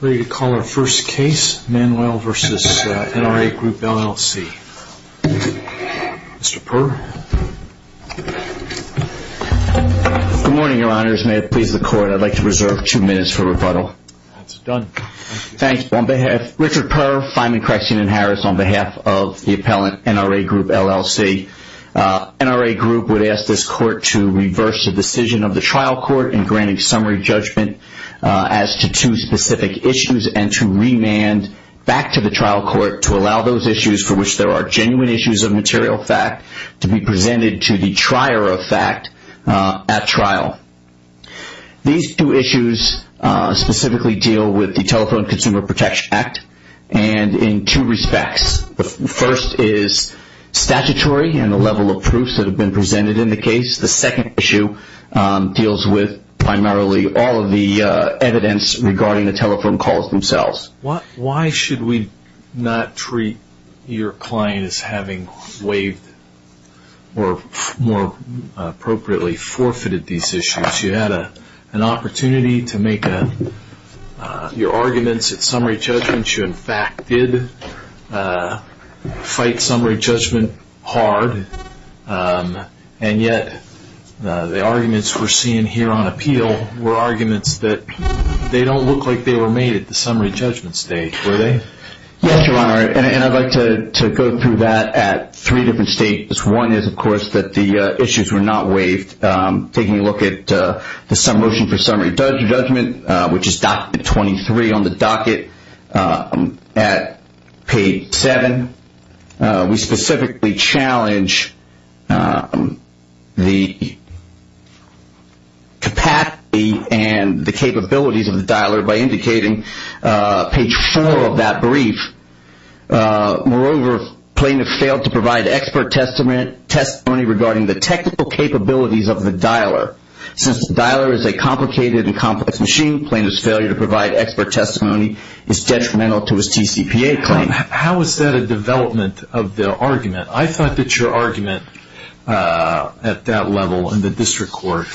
Ready to call our first case, Manuel v. NRA Group LLC. Mr. Purr. Good morning, Your Honors. May it please the Court, I'd like to reserve two minutes for rebuttal. That's done. Thank you. Richard Purr, Fineman Correction in Harris, on behalf of the appellant, NRA Group LLC. NRA Group would ask this Court to reverse the decision of the trial court in granting summary judgment as to two specific issues and to remand back to the trial court to allow those issues for which there are genuine issues of material fact to be presented to the trier of fact at trial. These two issues specifically deal with the Telephone Consumer Protection Act, and in two respects. The first is statutory and the level of proofs that have been presented in the case. The second issue deals with primarily all of the evidence regarding the telephone calls themselves. Why should we not treat your client as having waived or more appropriately forfeited these issues? You had an opportunity to make your arguments at summary judgment. You in fact did fight summary judgment hard, and yet the arguments we're seeing here on appeal were arguments that they don't look like they were made at the summary judgment stage, were they? Yes, Your Honor, and I'd like to go through that at three different stages. One is, of course, that the issues were not waived. Taking a look at the motion for summary judgment, which is document 23 on the docket at page 7, we specifically challenge the capacity and the capabilities of the dialer by indicating page 4 of that brief. Moreover, plaintiff failed to provide expert testimony regarding the technical capabilities of the dialer. Since the dialer is a complicated and complex machine, plaintiff's failure to provide expert testimony is detrimental to his TCPA claim. How is that a development of the argument? I thought that your argument at that level in the district court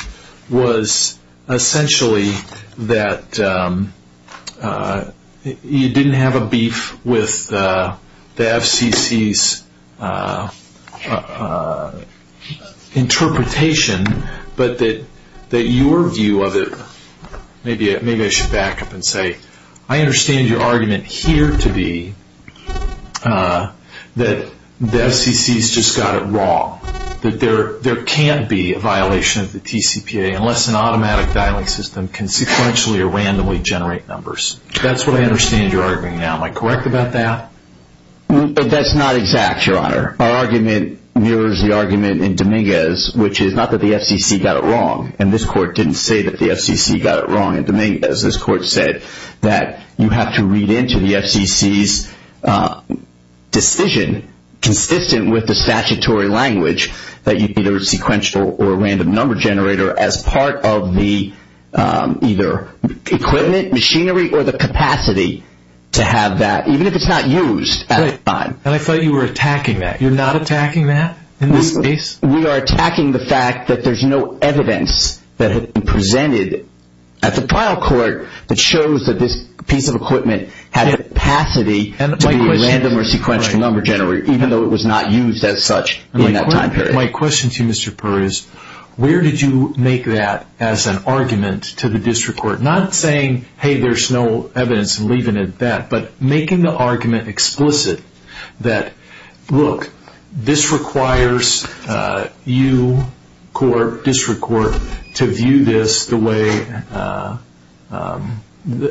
was essentially that you didn't have a beef with the FCC's interpretation, but that your view of it, maybe I should back up and say, I understand your argument here to be that the FCC's just got it wrong, that there can't be a violation of the TCPA unless an automatic dialing system can sequentially or randomly generate numbers. That's what I understand your argument now. Am I correct about that? That's not exact, Your Honor. Our argument mirrors the argument in Dominguez, which is not that the FCC got it wrong. This court didn't say that the FCC got it wrong in Dominguez. This court said that you have to read into the FCC's decision consistent with the statutory language that you either sequential or random number generator as part of the either equipment, machinery, or the capacity to have that, even if it's not used at the time. I thought you were attacking that. You're not attacking that in this case? We are attacking the fact that there's no evidence that had been presented at the trial court that shows that this piece of equipment had capacity to be a random or sequential number generator, even though it was not used as such in that time period. My question to you, Mr. Perr, is where did you make that as an argument to the district court? Not saying, hey, there's no evidence and leaving it at that, but making the argument explicit that, look, this requires you, court, district court, to view this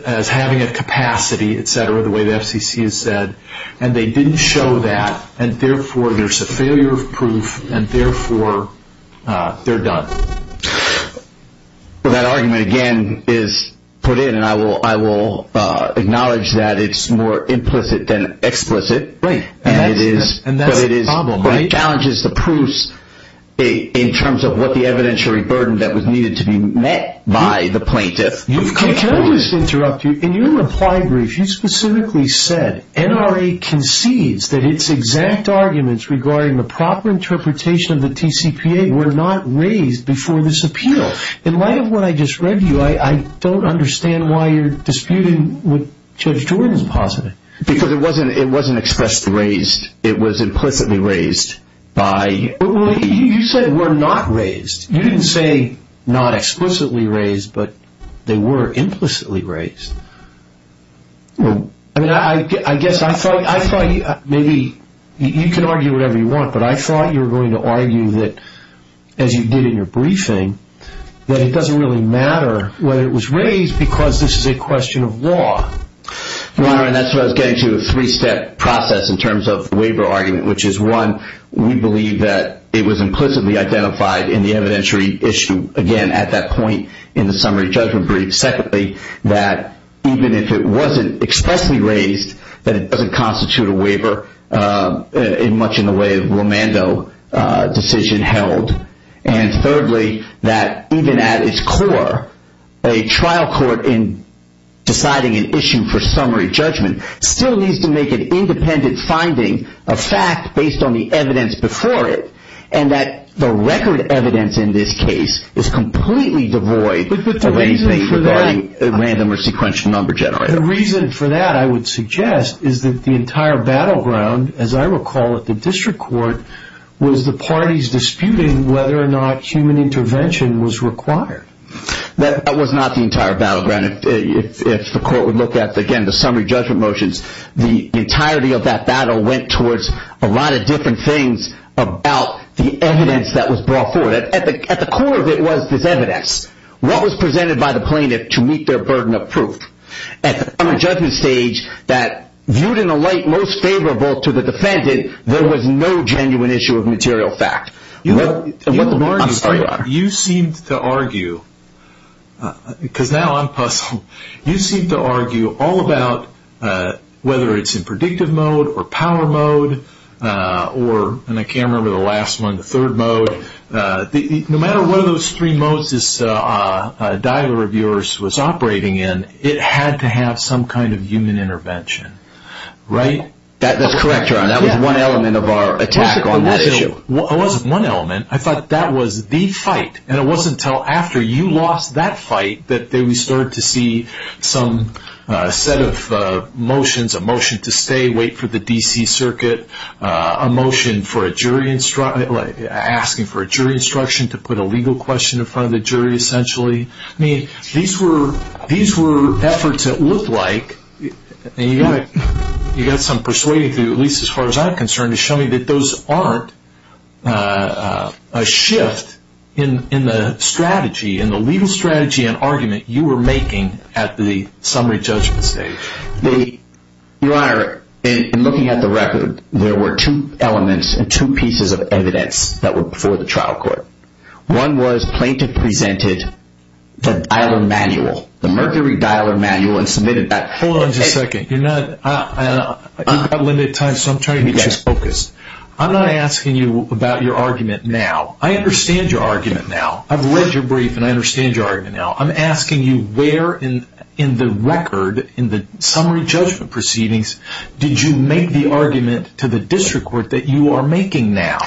as having a capacity, et cetera, the way the FCC has said, and they didn't show that, and therefore there's a failure of proof, and therefore they're done. That argument, again, is put in, and I will acknowledge that it's more implicit than explicit. Right. And that's the problem, right? But it challenges the proofs in terms of what the evidentiary burden that was needed to be met by the plaintiff. Can I just interrupt you? In your reply brief, you specifically said NRA concedes that its exact arguments regarding the proper interpretation of the TCPA were not raised before this appeal. In light of what I just read to you, I don't understand why you're disputing what Judge Jordan's positive. Because it wasn't expressed raised. It was implicitly raised by... You said were not raised. I mean, I guess I thought maybe you can argue whatever you want, but I thought you were going to argue that, as you did in your briefing, that it doesn't really matter whether it was raised because this is a question of law. Your Honor, and that's what I was getting to, a three-step process in terms of the waiver argument, which is, one, we believe that it was implicitly identified in the evidentiary issue, again, at that point in the summary judgment brief. Secondly, that even if it wasn't expressly raised, that it doesn't constitute a waiver in much in the way of Romando decision held. And thirdly, that even at its core, a trial court in deciding an issue for summary judgment still needs to make an independent finding, a fact based on the evidence before it, and that the record evidence in this case is completely devoid of anything for the record. The reason for that, I would suggest, is that the entire battleground, as I recall at the district court, was the parties disputing whether or not human intervention was required. That was not the entire battleground. If the court would look at, again, the summary judgment motions, the entirety of that battle went towards a lot of different things about the evidence that was brought forward. At the core of it was this evidence. What was presented by the plaintiff to meet their burden of proof? At the summary judgment stage, that viewed in a light most favorable to the defendant, there was no genuine issue of material fact. You seem to argue, because now I'm puzzled, you seem to argue all about whether it's in predictive mode or power mode or, and I can't remember the last one, the third mode. No matter what of those three modes this dialer of yours was operating in, it had to have some kind of human intervention, right? That's correct, Your Honor. That was one element of our attack on this issue. It wasn't one element. I thought that was the fight. It wasn't until after you lost that fight that we started to see some set of motions, a motion to stay, wait for the D.C. Circuit, a motion asking for a jury instruction to put a legal question in front of the jury, essentially. These were efforts that looked like, and you got some persuading through, at least as far as I'm concerned, to show me that those aren't a shift in the strategy, in the legal strategy and argument you were making at the summary judgment stage. The, Your Honor, in looking at the record, there were two elements and two pieces of evidence that were before the trial court. One was plaintiff presented the dialer manual, the mercury dialer manual and submitted that. Hold on just a second. You're not, you've got limited time, so I'm trying to get you focused. I'm not asking you about your argument now. I understand your argument now. I've read your brief and I understand your argument now. I'm asking you where in the record, in the summary judgment proceedings, did you make the argument to the district court that you are making now?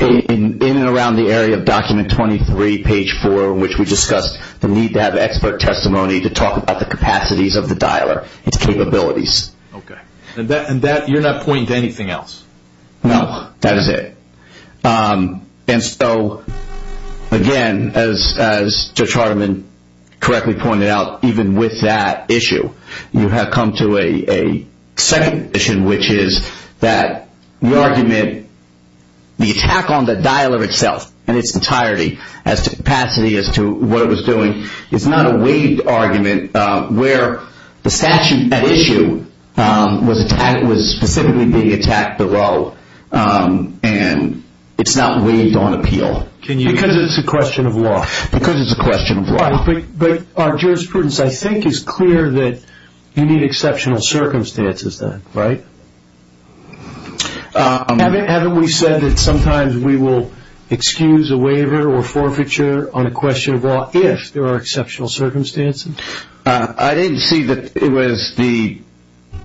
In and around the area of document 23, page 4, which we discussed the need to have expert testimony to talk about the capacities of the dialer, its capabilities. Okay, and that, you're not pointing to anything else? No, that is it. And so, again, as Judge Hardiman correctly pointed out, even with that issue, you have come to a second issue, which is that the argument, the attack on the dialer itself and its entirety as to capacity, as to what it was doing, is not a waived argument where the statute at issue was specifically being attacked below and it's not waived on appeal. Because it's a question of law. Because it's a question of law. But our jurisprudence, I think, is clear that you need exceptional circumstances then, right? Haven't we said that sometimes we will excuse a waiver or forfeiture on a question of law if there are exceptional circumstances? I didn't see that it was the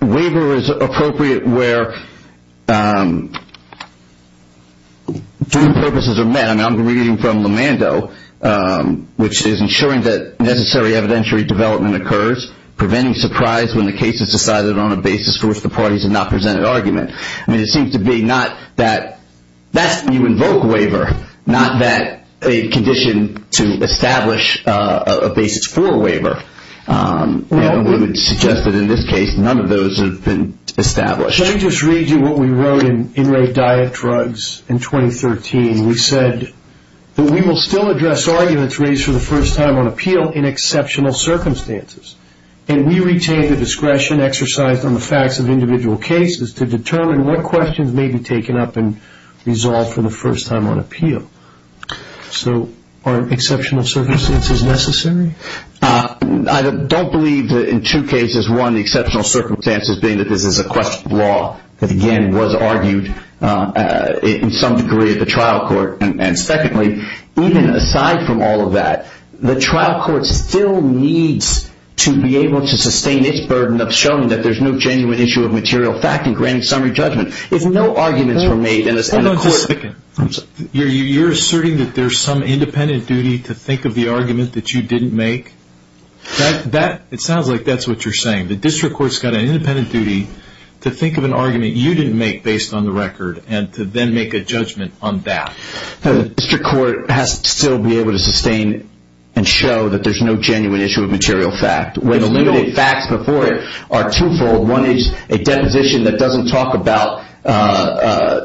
waiver is appropriate where two purposes are met. I mean, I'm reading from Lemando, which is ensuring that necessary evidentiary development occurs, preventing surprise when the case is decided on a basis for which the parties have not presented argument. I mean, it seems to be not that that's when you invoke waiver, not that a condition to And we would suggest that in this case, none of those have been established. Let me just read you what we wrote in Inrate Diet Drugs in 2013. We said that we will still address arguments raised for the first time on appeal in exceptional circumstances. And we retain the discretion exercised on the facts of individual cases to determine what questions may be taken up and resolved for the first time on appeal. So are exceptional circumstances necessary? I don't believe that in two cases, one, the exceptional circumstances being that this is a question of law that, again, was argued in some degree at the trial court. And secondly, even aside from all of that, the trial court still needs to be able to sustain its burden of showing that there's no genuine issue of material fact and granting summary judgment. If no arguments were made in the court. Hold on just a second. You're asserting that there's some independent duty to think of the argument that you didn't make? It sounds like that's what you're saying. The district court's got an independent duty to think of an argument you didn't make based on the record and to then make a judgment on that. No, the district court has to still be able to sustain and show that there's no genuine issue of material fact. When the limited facts before it are twofold. One is a deposition that doesn't talk about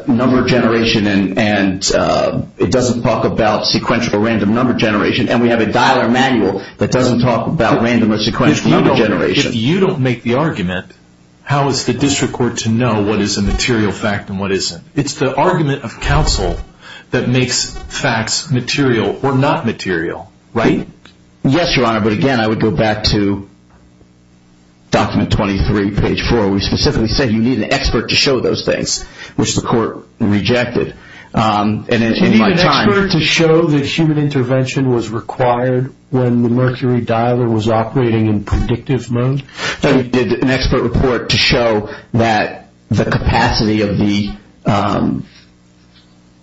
number generation and it doesn't talk about sequential or random number generation. And we have a dialer manual that doesn't talk about random or sequential number generation. If you don't make the argument, how is the district court to know what is a material fact and what isn't? It's the argument of counsel that makes facts material or not material, right? Yes, Your Honor. But again, I would go back to document 23, page 4. We specifically said you need an expert to show those things, which the court rejected. Did you need an expert to show that human intervention was required when the Mercury dialer was operating in predictive mode? That we did an expert report to show that the capacity of the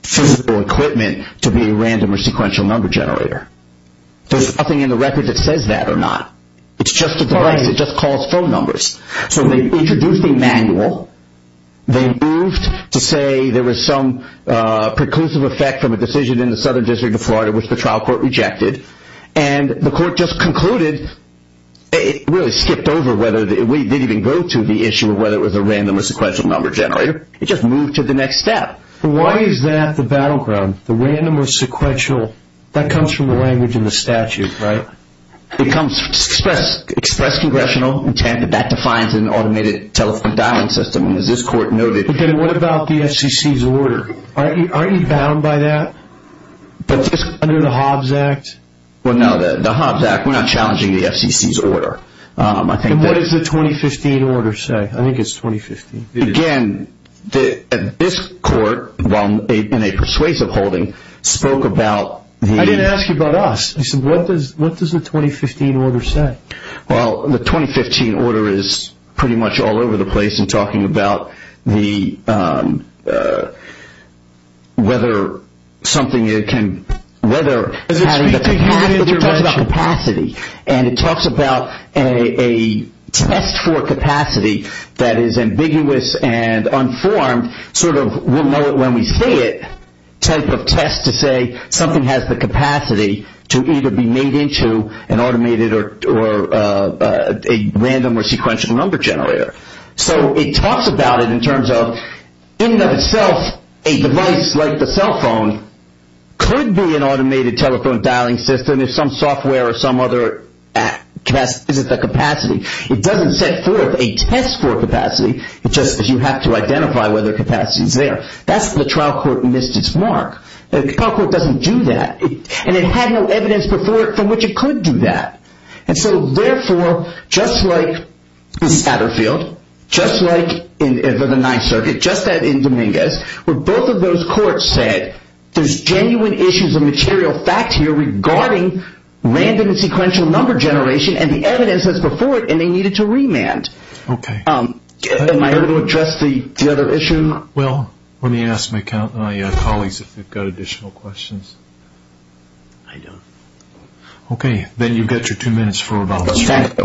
physical equipment to be a random or sequential number generator. There's nothing in the record that says that or not. It's just a device that just calls phone numbers. So they introduced a manual. They moved to say there was some preclusive effect from a decision in the Southern District of Florida, which the trial court rejected. And the court just concluded. It really skipped over whether we did even go to the issue of whether it was a random or sequential number generator. It just moved to the next step. Why is that the battleground, the random or sequential? That comes from the language in the statute, right? It comes express congressional intent. That defines an automated telephone dialing system. And as this court noted. But then what about the FCC's order? Aren't you bound by that under the Hobbs Act? Well, no, the Hobbs Act, we're not challenging the FCC's order. And what does the 2015 order say? I think it's 2015. Again, this court, while in a persuasive holding, spoke about. I didn't ask you about us. What does the 2015 order say? Well, the 2015 order is pretty much all over the place in talking about the. Whether something it can whether. And it talks about a test for capacity that is ambiguous and unformed, sort of. When we say it, type of test to say something has the capacity to either be made into an automated or a random or sequential number generator. So it talks about it in terms of in and of itself. A device like the cell phone could be an automated telephone dialing system. If some software or some other capacity isn't the capacity. It doesn't set forth a test for capacity. It's just that you have to identify whether capacity is there. That's the trial court missed its mark. The trial court doesn't do that. And it had no evidence before it from which it could do that. And so therefore, just like in Satterfield, just like in the Ninth Circuit, just as in Dominguez, where both of those courts said there's genuine issues of material fact here regarding random and sequential number generation and the evidence that's before it. And they needed to remand. Okay. Am I able to address the other issue? Well, let me ask my colleagues if they've got additional questions. I don't. Okay. Then you've got your two minutes for rebuttal. Thank you.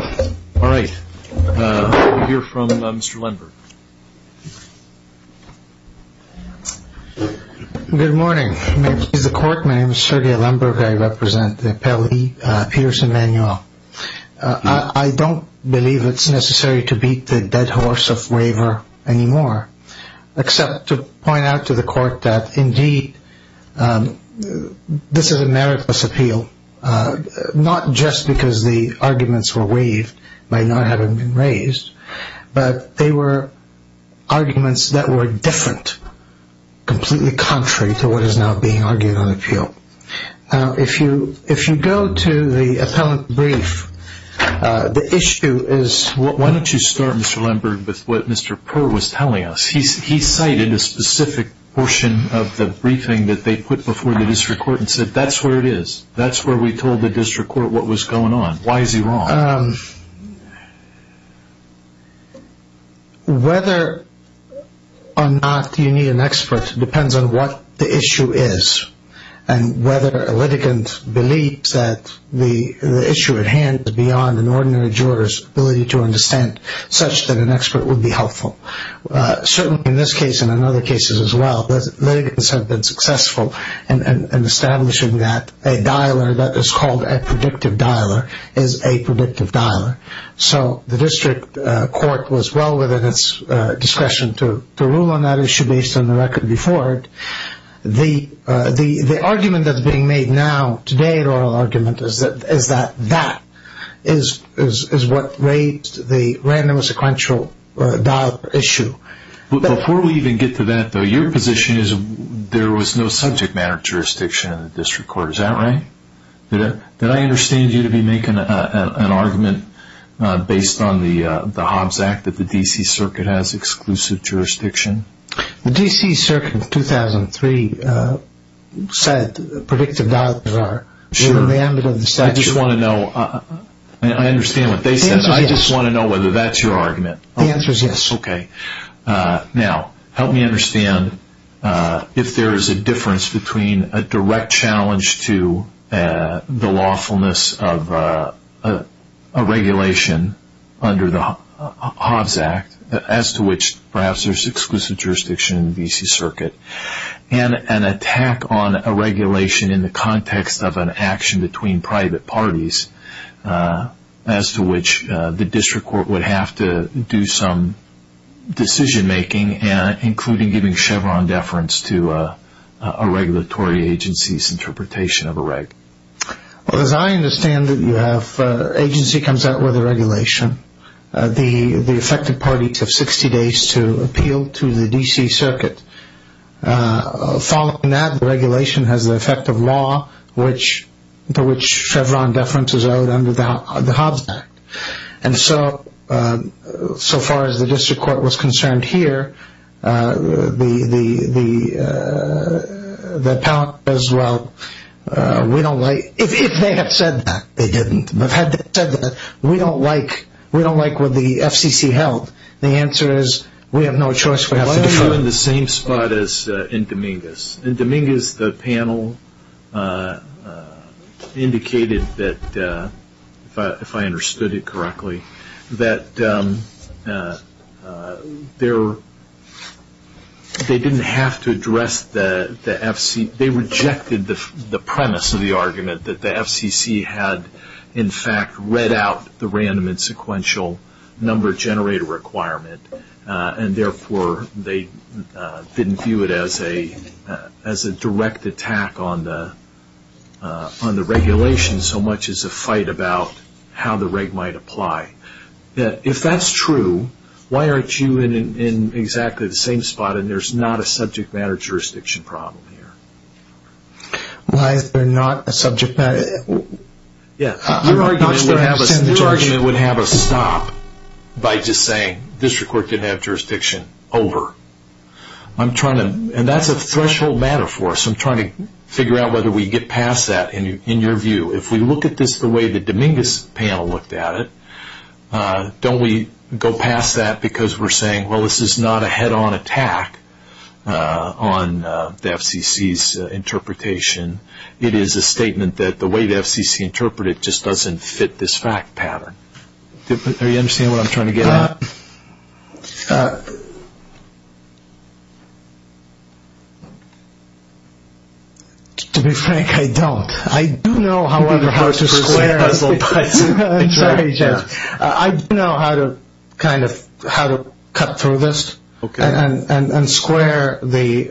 All right. We'll hear from Mr. Lemberg. Good morning. May it please the court. My name is Sergei Lemberg. I represent the appellee, Pierson Manuel. I don't believe it's necessary to beat the dead horse of waiver anymore, except to point out to the court that, indeed, this is a meritless appeal, not just because the arguments were waived by not having been raised, but they were arguments that were different, completely contrary to what is now being argued on appeal. If you go to the appellant brief, the issue is... Why don't you start, Mr. Lemberg, with what Mr. Purr was telling us. He cited a specific portion of the briefing that they put before the district court and said, that's where it is. That's where we told the district court what was going on. Why is he wrong? Whether or not you need an expert depends on what the issue is. Whether a litigant believes that the issue at hand is beyond an ordinary juror's ability to understand, such that an expert would be helpful. Certainly in this case and in other cases as well, litigants have been successful in establishing that a dialer that is called a predictive dialer is a predictive dialer. The district court was well within its discretion to rule on that issue based on the record before it. The argument that's being made now, today in oral argument, is that that is what raised the random sequential dialer issue. Before we even get to that, though, your position is there was no subject matter jurisdiction in the district court. Is that right? Did I understand you to be making an argument based on the Hobbs Act that the D.C. Circuit has exclusive jurisdiction? The D.C. Circuit in 2003 said predictive dialers are remanded of the statute. I just want to know. I understand what they said. I just want to know whether that's your argument. The answer is yes. Okay. Now, help me understand if there is a difference between a direct challenge to the lawfulness of a regulation under the Hobbs Act, as to which perhaps there is exclusive jurisdiction in the D.C. Circuit, and an attack on a regulation in the context of an action between private parties as to which the district court would have to do some decision making, including giving Chevron deference to a regulatory agency's interpretation of a reg. Well, as I understand it, you have agency comes out with a regulation. The affected parties have 60 days to appeal to the D.C. Circuit. Following that, the regulation has the effect of law to which Chevron deference is owed under the Hobbs Act. And so far as the district court was concerned here, the appellate says, well, we don't like, if they have said that, they didn't. They've said that we don't like what the FCC held. The answer is we have no choice. We have to defer. Why are you in the same spot as in Dominguez? In Dominguez, the panel indicated that, if I understood it correctly, that they didn't have to address the FC. They rejected the premise of the argument that the FCC had, in fact, read out the random and sequential number generator requirement. And therefore, they didn't view it as a direct attack on the regulation so much as a fight about how the reg might apply. If that's true, why aren't you in exactly the same spot and there's not a subject matter jurisdiction problem here? Why is there not a subject matter? Your argument would have us stop by just saying district court didn't have jurisdiction. Over. I'm trying to, and that's a threshold matter for us. I'm trying to figure out whether we get past that in your view. If we look at this the way the Dominguez panel looked at it, don't we go past that because we're saying, well, this is not a head-on attack on the FCC's interpretation. It is a statement that the way the FCC interpreted it just doesn't fit this fact pattern. Do you understand what I'm trying to get at? To be frank, I don't. I do know, however, how to square. I do know how to cut through this and square the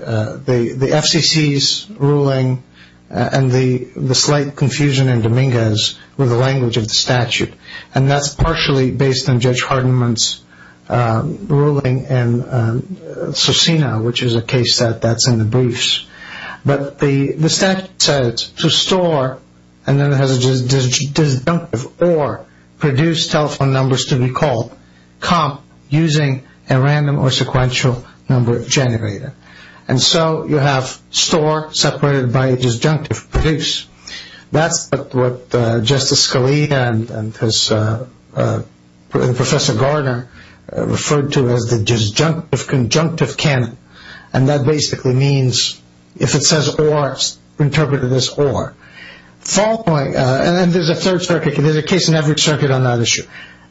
FCC's ruling and the slight confusion in Dominguez with the language of the statute. That's partially based on Judge Hardeman's ruling in Susina, which is a case that's in the briefs. The statute says to store, and then it has a disjunctive, or produce telephone numbers to be called, comp using a random or sequential number generator. So you have store separated by a disjunctive, produce. That's what Justice Scalia and Professor Garner referred to as the disjunctive conjunctive canon, and that basically means if it says or, it's interpreted as or. And then there's a third circuit, and there's a case in every circuit on that issue.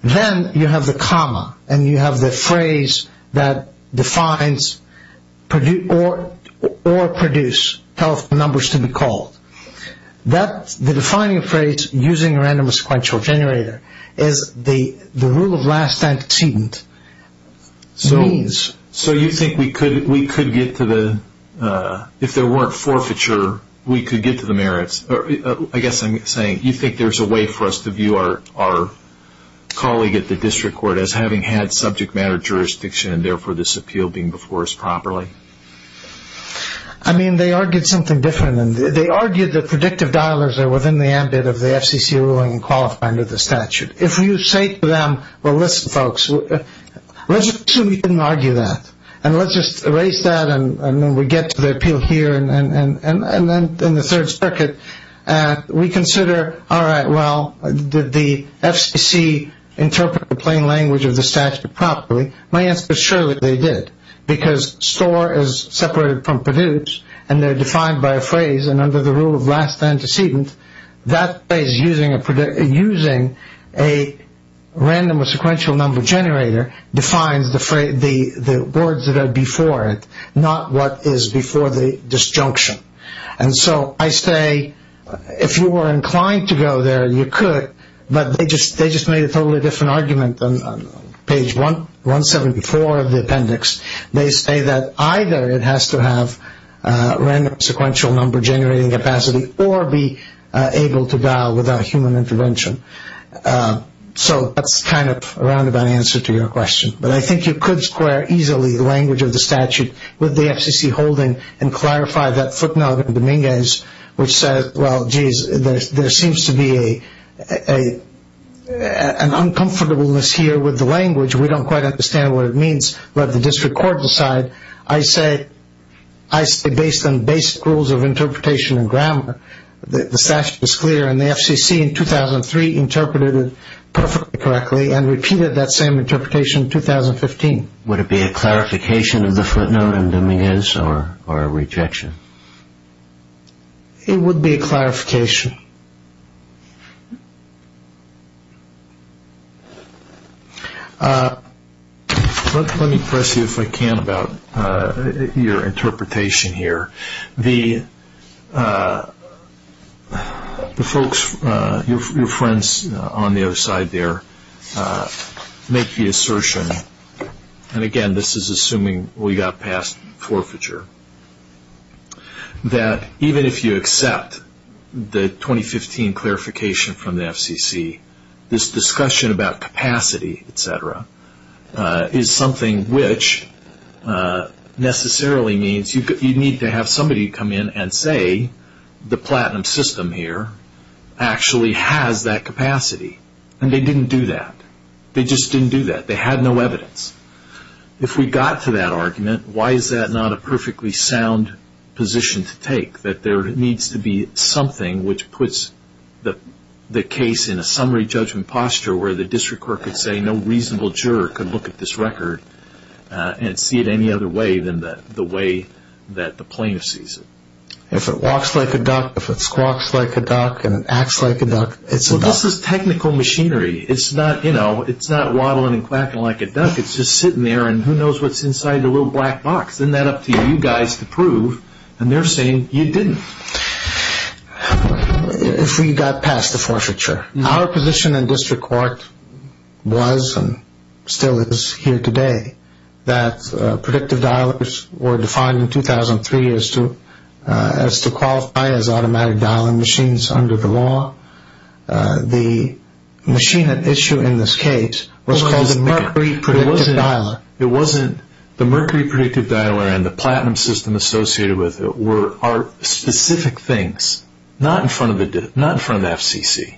Then you have the comma, and you have the phrase that defines or produce telephone numbers to be called. The defining phrase, using a random or sequential generator, is the rule of last antecedent means. So you think we could get to the, if there weren't forfeiture, we could get to the merits. I guess I'm saying, you think there's a way for us to view our colleague at the district court as having had subject matter jurisdiction and therefore this appeal being before us properly? I mean, they argued something different. They argued that predictive dialers are within the ambit of the FCC ruling and qualified under the statute. If you say to them, well, listen, folks, let's assume you didn't argue that, and let's just erase that, and then we get to the appeal here, and then in the third circuit, we consider, all right, well, did the FCC interpret the plain language of the statute properly? My answer is surely they did, because store is separated from produce, and they're defined by a phrase, and under the rule of last antecedent, that phrase, using a random or sequential number generator, defines the words that are before it, not what is before the disjunction. And so I say, if you were inclined to go there, you could, but they just made a totally different argument on page 174 of the appendix. They say that either it has to have random sequential number generating capacity or be able to dial without human intervention. So that's kind of a roundabout answer to your question, but I think you could square easily the language of the statute with the FCC holding and clarify that footnote in Dominguez, which says, well, geez, there seems to be an uncomfortableness here with the language. We don't quite understand what it means. Let the district court decide. I say, based on basic rules of interpretation and grammar, the statute is clear, and the FCC in 2003 interpreted it perfectly correctly and repeated that same interpretation in 2015. Would it be a clarification of the footnote in Dominguez or a rejection? It would be a clarification. Let me press you if I can about your interpretation here. The folks, your friends on the other side there, make the assertion, and again, this is assuming we got past forfeiture, that even if you accept the 2015 clarification from is something which necessarily means you need to have somebody come in and say, the platinum system here actually has that capacity, and they didn't do that. They just didn't do that. They had no evidence. If we got to that argument, why is that not a perfectly sound position to take, that there needs to be something which puts the case in a summary judgment posture where the district could look at this record and see it any other way than the way that the plaintiff sees it? If it walks like a duck, if it squawks like a duck, and it acts like a duck, it's a duck. This is technical machinery. It's not waddling and quacking like a duck. It's just sitting there, and who knows what's inside the little black box. Isn't that up to you guys to prove? And they're saying you didn't. If we got past the forfeiture. Our position in district court was, and still is here today, that predictive dialers were defined in 2003 as to qualify as automatic dialing machines under the law. The machine at issue in this case was called the Mercury Predictive Dialer. It wasn't the Mercury Predictive Dialer and the platinum system associated with it were specific things, not in front of the FCC.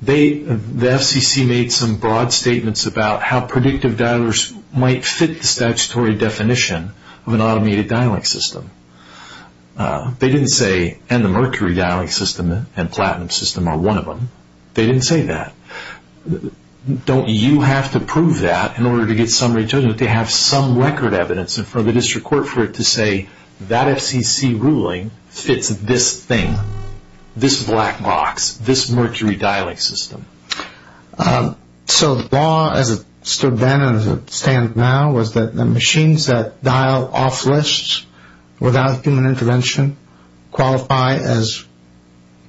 The FCC made some broad statements about how predictive dialers might fit the statutory definition of an automated dialing system. They didn't say, and the Mercury dialing system and platinum system are one of them. They didn't say that. Don't you have to prove that in order to get summary judgment to have some record evidence in front of the district court for it to say that FCC ruling fits this thing, this black box, this Mercury dialing system? So the law as it stood then and as it stands now was that the machines that dial off lists without human intervention qualify as...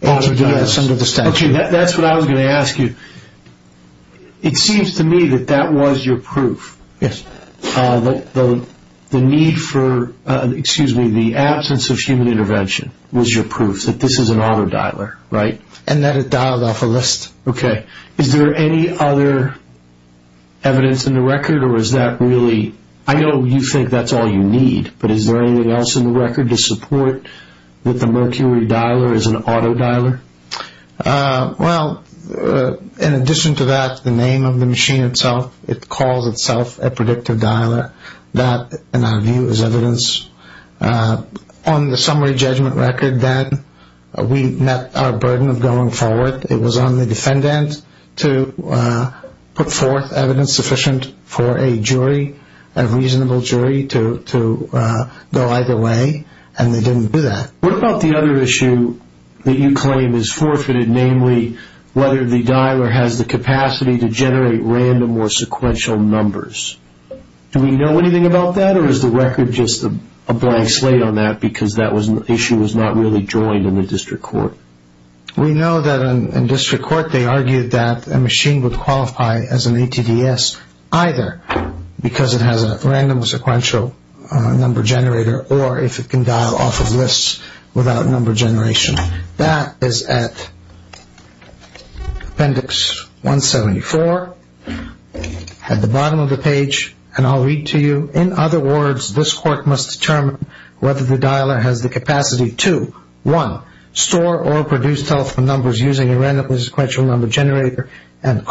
Automatic dialers. ...under the statute. That's what I was going to ask you. It seems to me that that was your proof. Yes. The need for, excuse me, the absence of human intervention was your proof that this is an auto dialer, right? And that it dialed off a list. Okay. Is there any other evidence in the record or is that really... I know you think that's all you need, but is there anything else in the record to support that the Mercury dialer is an auto dialer? Well, in addition to that, the name of the machine itself, it calls itself a predictive dialer. That, in our view, is evidence on the summary judgment record that we met our burden of going forward. It was on the defendant to put forth evidence sufficient for a jury, a reasonable jury to go either way, and they didn't do that. What about the other issue that you claim is forfeited, namely whether the dialer has the capacity to generate random or sequential numbers? Do we know anything about that or is the record just a blank slate on that because that issue was not really joined in the district court? We know that in district court they argued that a machine would qualify as an ATDS either because it has a random or sequential number generator or if it can dial off of lists without number generation. That is at appendix 174 at the bottom of the page, and I'll read to you. In other words, this court must determine whether the dialer has the capacity to, one, store or produce telephone numbers using a random or sequential number generator and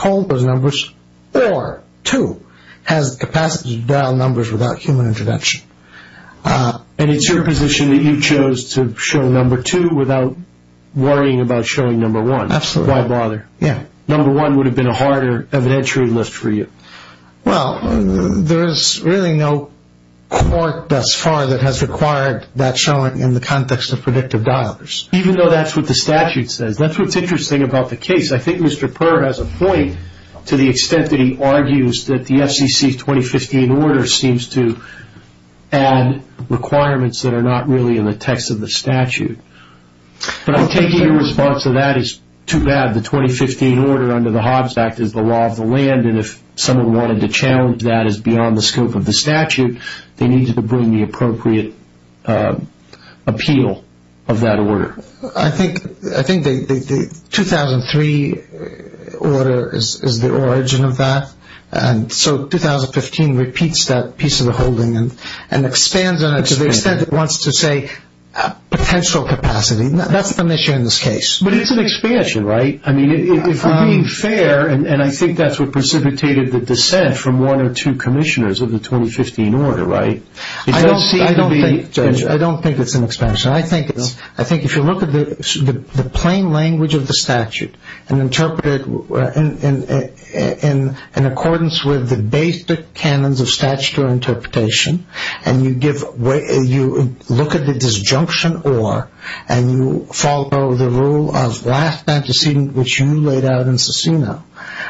two, has the capacity to dial numbers without human intervention. And it's your position that you chose to show number two without worrying about showing number one. Absolutely. Why bother? Yeah. Number one would have been a harder evidentiary list for you. Well, there is really no court thus far that has required that showing in the context of predictive dialers. Even though that's what the statute says, that's what's interesting about the case. I think Mr. Purr has a point to the extent that he argues that the FCC 2015 order seems to add requirements that are not really in the text of the statute. But I'm taking your response to that as too bad. The 2015 order under the Hobbs Act is the law of the land, and if someone wanted to challenge that as beyond the scope of the statute, they needed to bring the appropriate appeal of that order. I think the 2003 order is the origin of that. So 2015 repeats that piece of the holding and expands on it to the extent it wants to say potential capacity. That's the issue in this case. But it's an expansion, right? I mean, if we're being fair, and I think that's what precipitated the dissent from one or two commissioners of the 2015 order, right? I don't think it's an expansion. I think if you look at the plain language of the statute and interpret it in accordance with the basic canons of statutory interpretation, and you look at the disjunction or, and you follow the rule of last antecedent which you laid out in Cicino,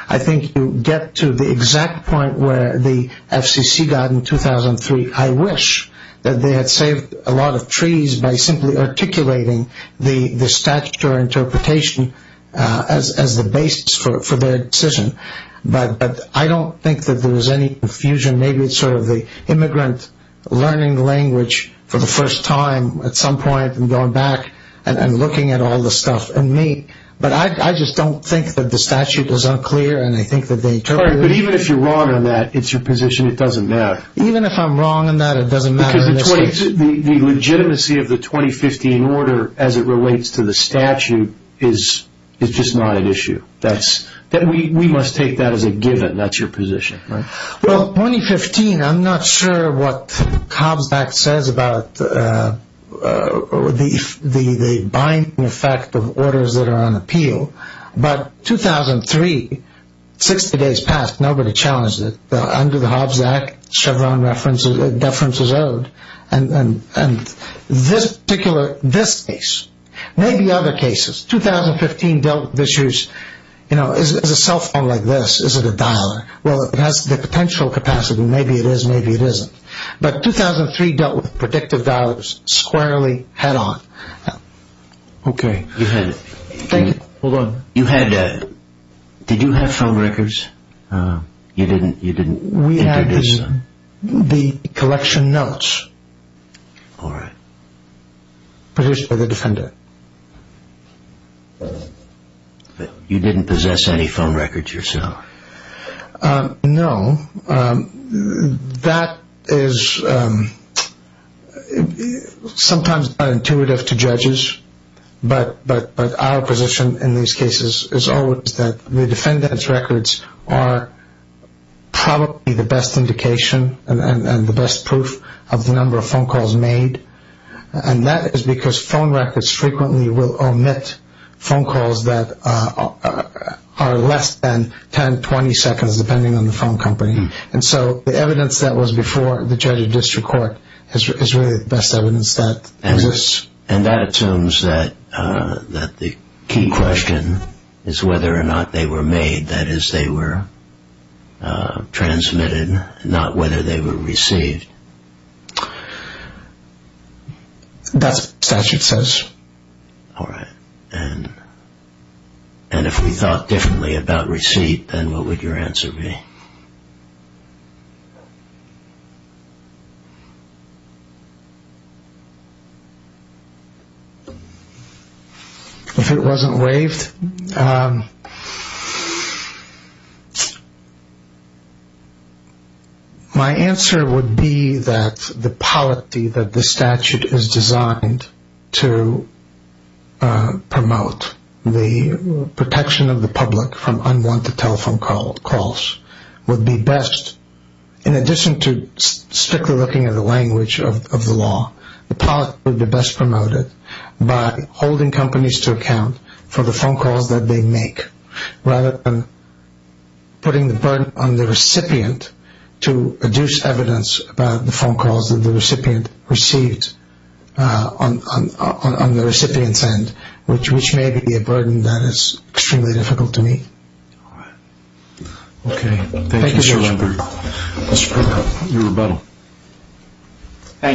I think you get to the exact point where the FCC got in 2003. I wish that they had saved a lot of trees by simply articulating the statutory interpretation as the basis for their decision. But I don't think that there was any confusion. Maybe it's sort of the immigrant learning language for the first time at some point and going back and looking at all the stuff. And me, but I just don't think that the statute is unclear, and I think that they interpret it. But even if you're wrong on that, it's your position. It doesn't matter. Even if I'm wrong on that, it doesn't matter. Because the legitimacy of the 2015 order as it relates to the statute is just not an issue. We must take that as a given. That's your position, right? Well, 2015, I'm not sure what Hobbs Act says about the binding effect of orders that are on appeal. But 2003, 60 days passed, nobody challenged it. Under the Hobbs Act, Chevron deference is owed. And this particular, this case, maybe other cases. 2015 dealt with issues, you know, is a cell phone like this, is it a dialer? Well, it has the potential capacity. Maybe it is, maybe it isn't. But 2003 dealt with predictive dialers squarely, head on. Okay. Hold on. You had, did you have film records? You didn't introduce them? We had the collection notes. All right. Positioned by the defendant. You didn't possess any film records yourself? No. That is sometimes not intuitive to judges. But our position in these cases is always that the defendant's records are probably the best indication and the best proof of the number of phone calls made. And that is because phone records frequently will omit phone calls that are less than 10, 20 seconds, depending on the phone company. And so the evidence that was before the judge or district court is really the best evidence that exists. And that assumes that the key question is whether or not they were made. That is, they were transmitted, not whether they were received. That's what the statute says. All right. And if we thought differently about receipt, then what would your answer be? If it wasn't waived, my answer would be that the polity that the statute is designed to promote, the protection of the public from unwanted telephone calls, would be best. In addition to strictly looking at the language of the law, the polity would be best promoted by holding companies to account for the phone calls that they make. Rather than putting the burden on the recipient to produce evidence about the phone calls that the recipient received on the recipient's end, which may be a burden that is extremely difficult to meet. Okay. Thank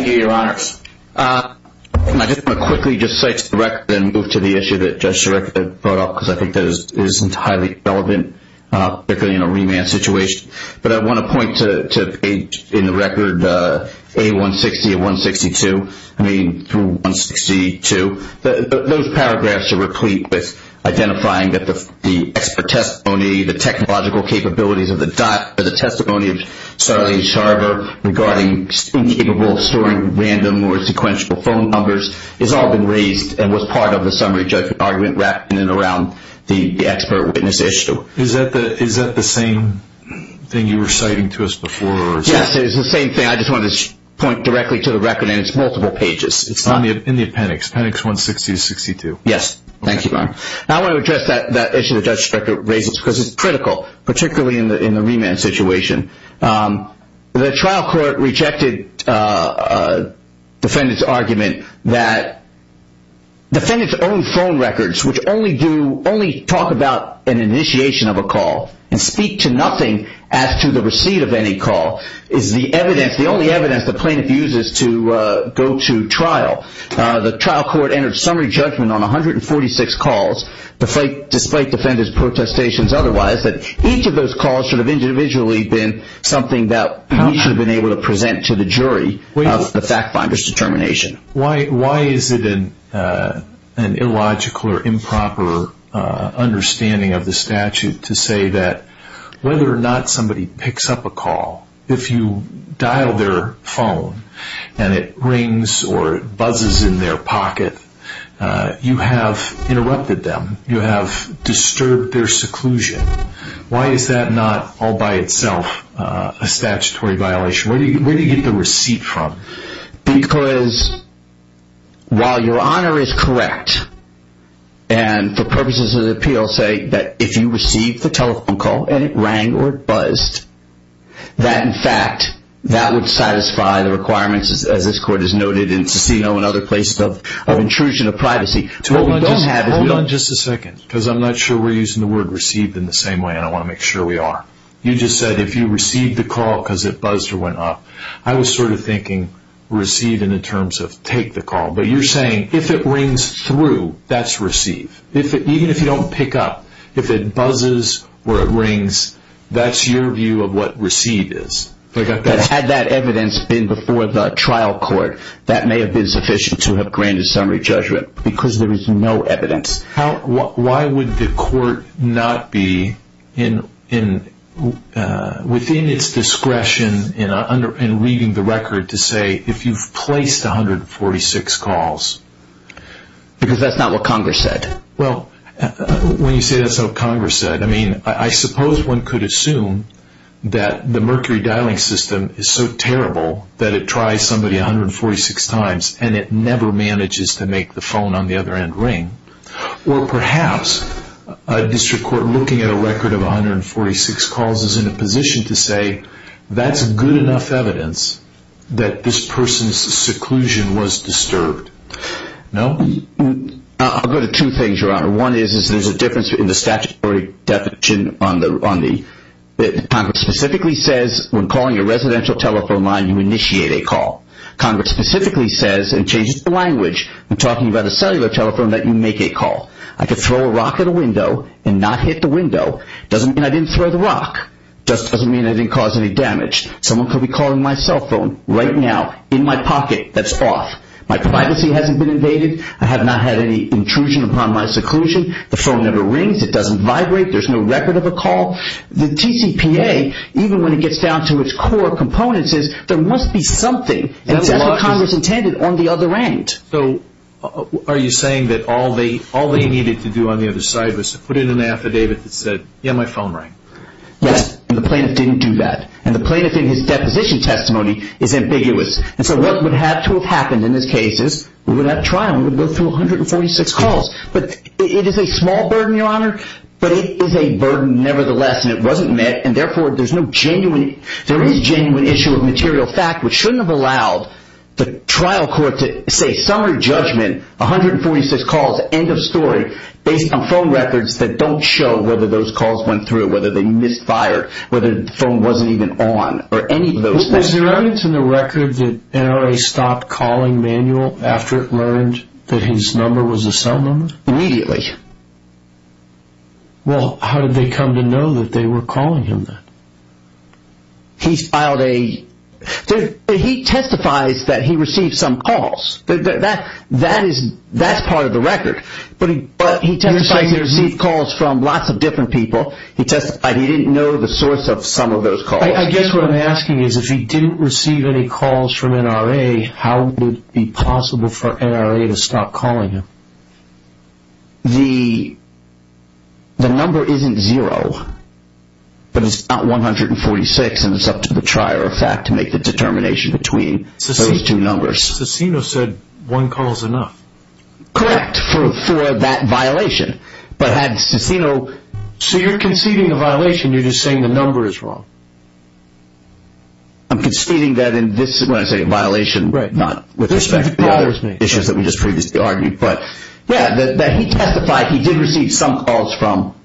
you, Your Honors. I just want to quickly just cite the record and move to the issue that Judge Sarek brought up, because I think that is entirely relevant, particularly in a remand situation. But I want to point to page in the record, A160 of 162, I mean, through 162. Those paragraphs are replete with identifying that the expert testimony, the technological capabilities of the testimony of Charlie Sharver regarding the remand situation, the fact that he was incapable of storing random or sequential phone numbers, has all been raised and was part of the summary judgment argument wrapped in and around the expert witness issue. Is that the same thing you were citing to us before? Yes, it is the same thing. I just wanted to point directly to the record, and it's multiple pages. It's in the appendix, appendix 160 of 162. Yes. Thank you, Your Honor. I want to address that issue that Judge Sarek raises, because it's critical, particularly in the remand situation. The trial court rejected the defendant's argument that defendants' own phone records, which only talk about an initiation of a call and speak to nothing as to the receipt of any call, is the evidence, the only evidence the plaintiff uses to go to trial. The trial court entered summary judgment on 146 calls, despite defendants' protestations otherwise, that each of those calls should have individually been something that we should have been able to present to the jury of the fact finder's determination. Why is it an illogical or improper understanding of the statute to say that whether or not somebody picks up a call, if you dial their phone and it rings or it buzzes in their pocket, you have interrupted them. You have disturbed their seclusion. Why is that not all by itself a statutory violation? Where do you get the receipt from? Because while Your Honor is correct and for purposes of the appeal say that if you received the telephone call and it rang or it buzzed, that in fact, that would satisfy the requirements as this court has noted in Cicino and other places of intrusion of privacy. Hold on just a second because I'm not sure we're using the word received in the same way and I want to make sure we are. You just said if you received the call because it buzzed or went off. I was sort of thinking received in the terms of take the call. But you're saying if it rings through, that's received. Even if you don't pick up, if it buzzes or it rings, that's your view of what received is. Had that evidence been before the trial court, that may have been sufficient to have granted summary judgment because there is no evidence. Why would the court not be within its discretion in reading the record to say if you've placed 146 calls? Because that's not what Congress said. Well, when you say that's what Congress said, I suppose one could assume that the Mercury dialing system is so terrible that it tries somebody 146 times and it never manages to make the phone on the other end ring. Or perhaps a district court looking at a record of 146 calls is in a position to say that's good enough evidence that this person's seclusion was disturbed. I'll go to two things, Your Honor. One is there's a difference in the statutory definition. Congress specifically says when calling a residential telephone line, you initiate a call. Congress specifically says and changes the language when talking about a cellular telephone that you make a call. I could throw a rock at a window and not hit the window. Doesn't mean I didn't throw the rock. Just doesn't mean I didn't cause any damage. Someone could be calling my cell phone right now in my pocket that's off. My privacy hasn't been invaded. I have not had any intrusion upon my seclusion. The phone never rings. It doesn't vibrate. There's no record of a call. The TCPA, even when it gets down to its core components, says there must be something. And that's what Congress intended on the other end. So are you saying that all they needed to do on the other side was to put in an affidavit that said, yeah, my phone rang? Yes, and the plaintiff didn't do that. And the plaintiff in his deposition testimony is ambiguous. And so what would have to have happened in this case is we would have trial. We would go through 146 calls. But it is a small burden, Your Honor. But it is a burden nevertheless. And it wasn't met. And therefore, there is no genuine issue of material fact, which shouldn't have allowed the trial court to say, summary judgment, 146 calls, end of story, based on phone records that don't show whether those calls went through, whether they misfired, whether the phone wasn't even on, or any of those things. Is there evidence in the record that NRA stopped calling Manuel after it learned that his number was a cell number? Immediately. Well, how did they come to know that they were calling him then? He filed a... He testifies that he received some calls. That's part of the record. But he testified he received calls from lots of different people. He testified he didn't know the source of some of those calls. I guess what I'm asking is, if he didn't receive any calls from NRA, how would it be possible for NRA to stop calling him? The... The number isn't zero. But it's not 146. And it's up to the trier of fact to make the determination between those two numbers. Cicino said one call's enough. Correct, for that violation. But had Cicino... So you're conceding a violation. You're just saying the number is wrong. I'm conceding that in this... When I say a violation, not with respect to the other issues that we just previously argued. But yeah, that he testified he did receive some calls from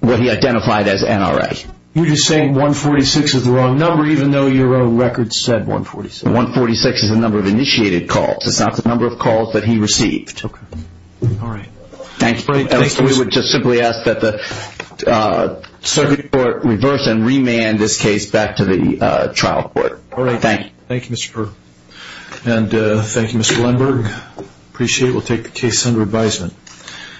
what he identified as NRA. You're just saying 146 is the wrong number, even though your own record said 146. 146 is the number of initiated calls. It's not the number of calls that he received. Okay, all right. Thanks, we would just simply ask that the circuit court reverse and remand this case back to the trial court. All right. Thank you. Thank you, Mr. Perl. And thank you, Mr. Lindberg. Appreciate it. We'll take the case under advisement.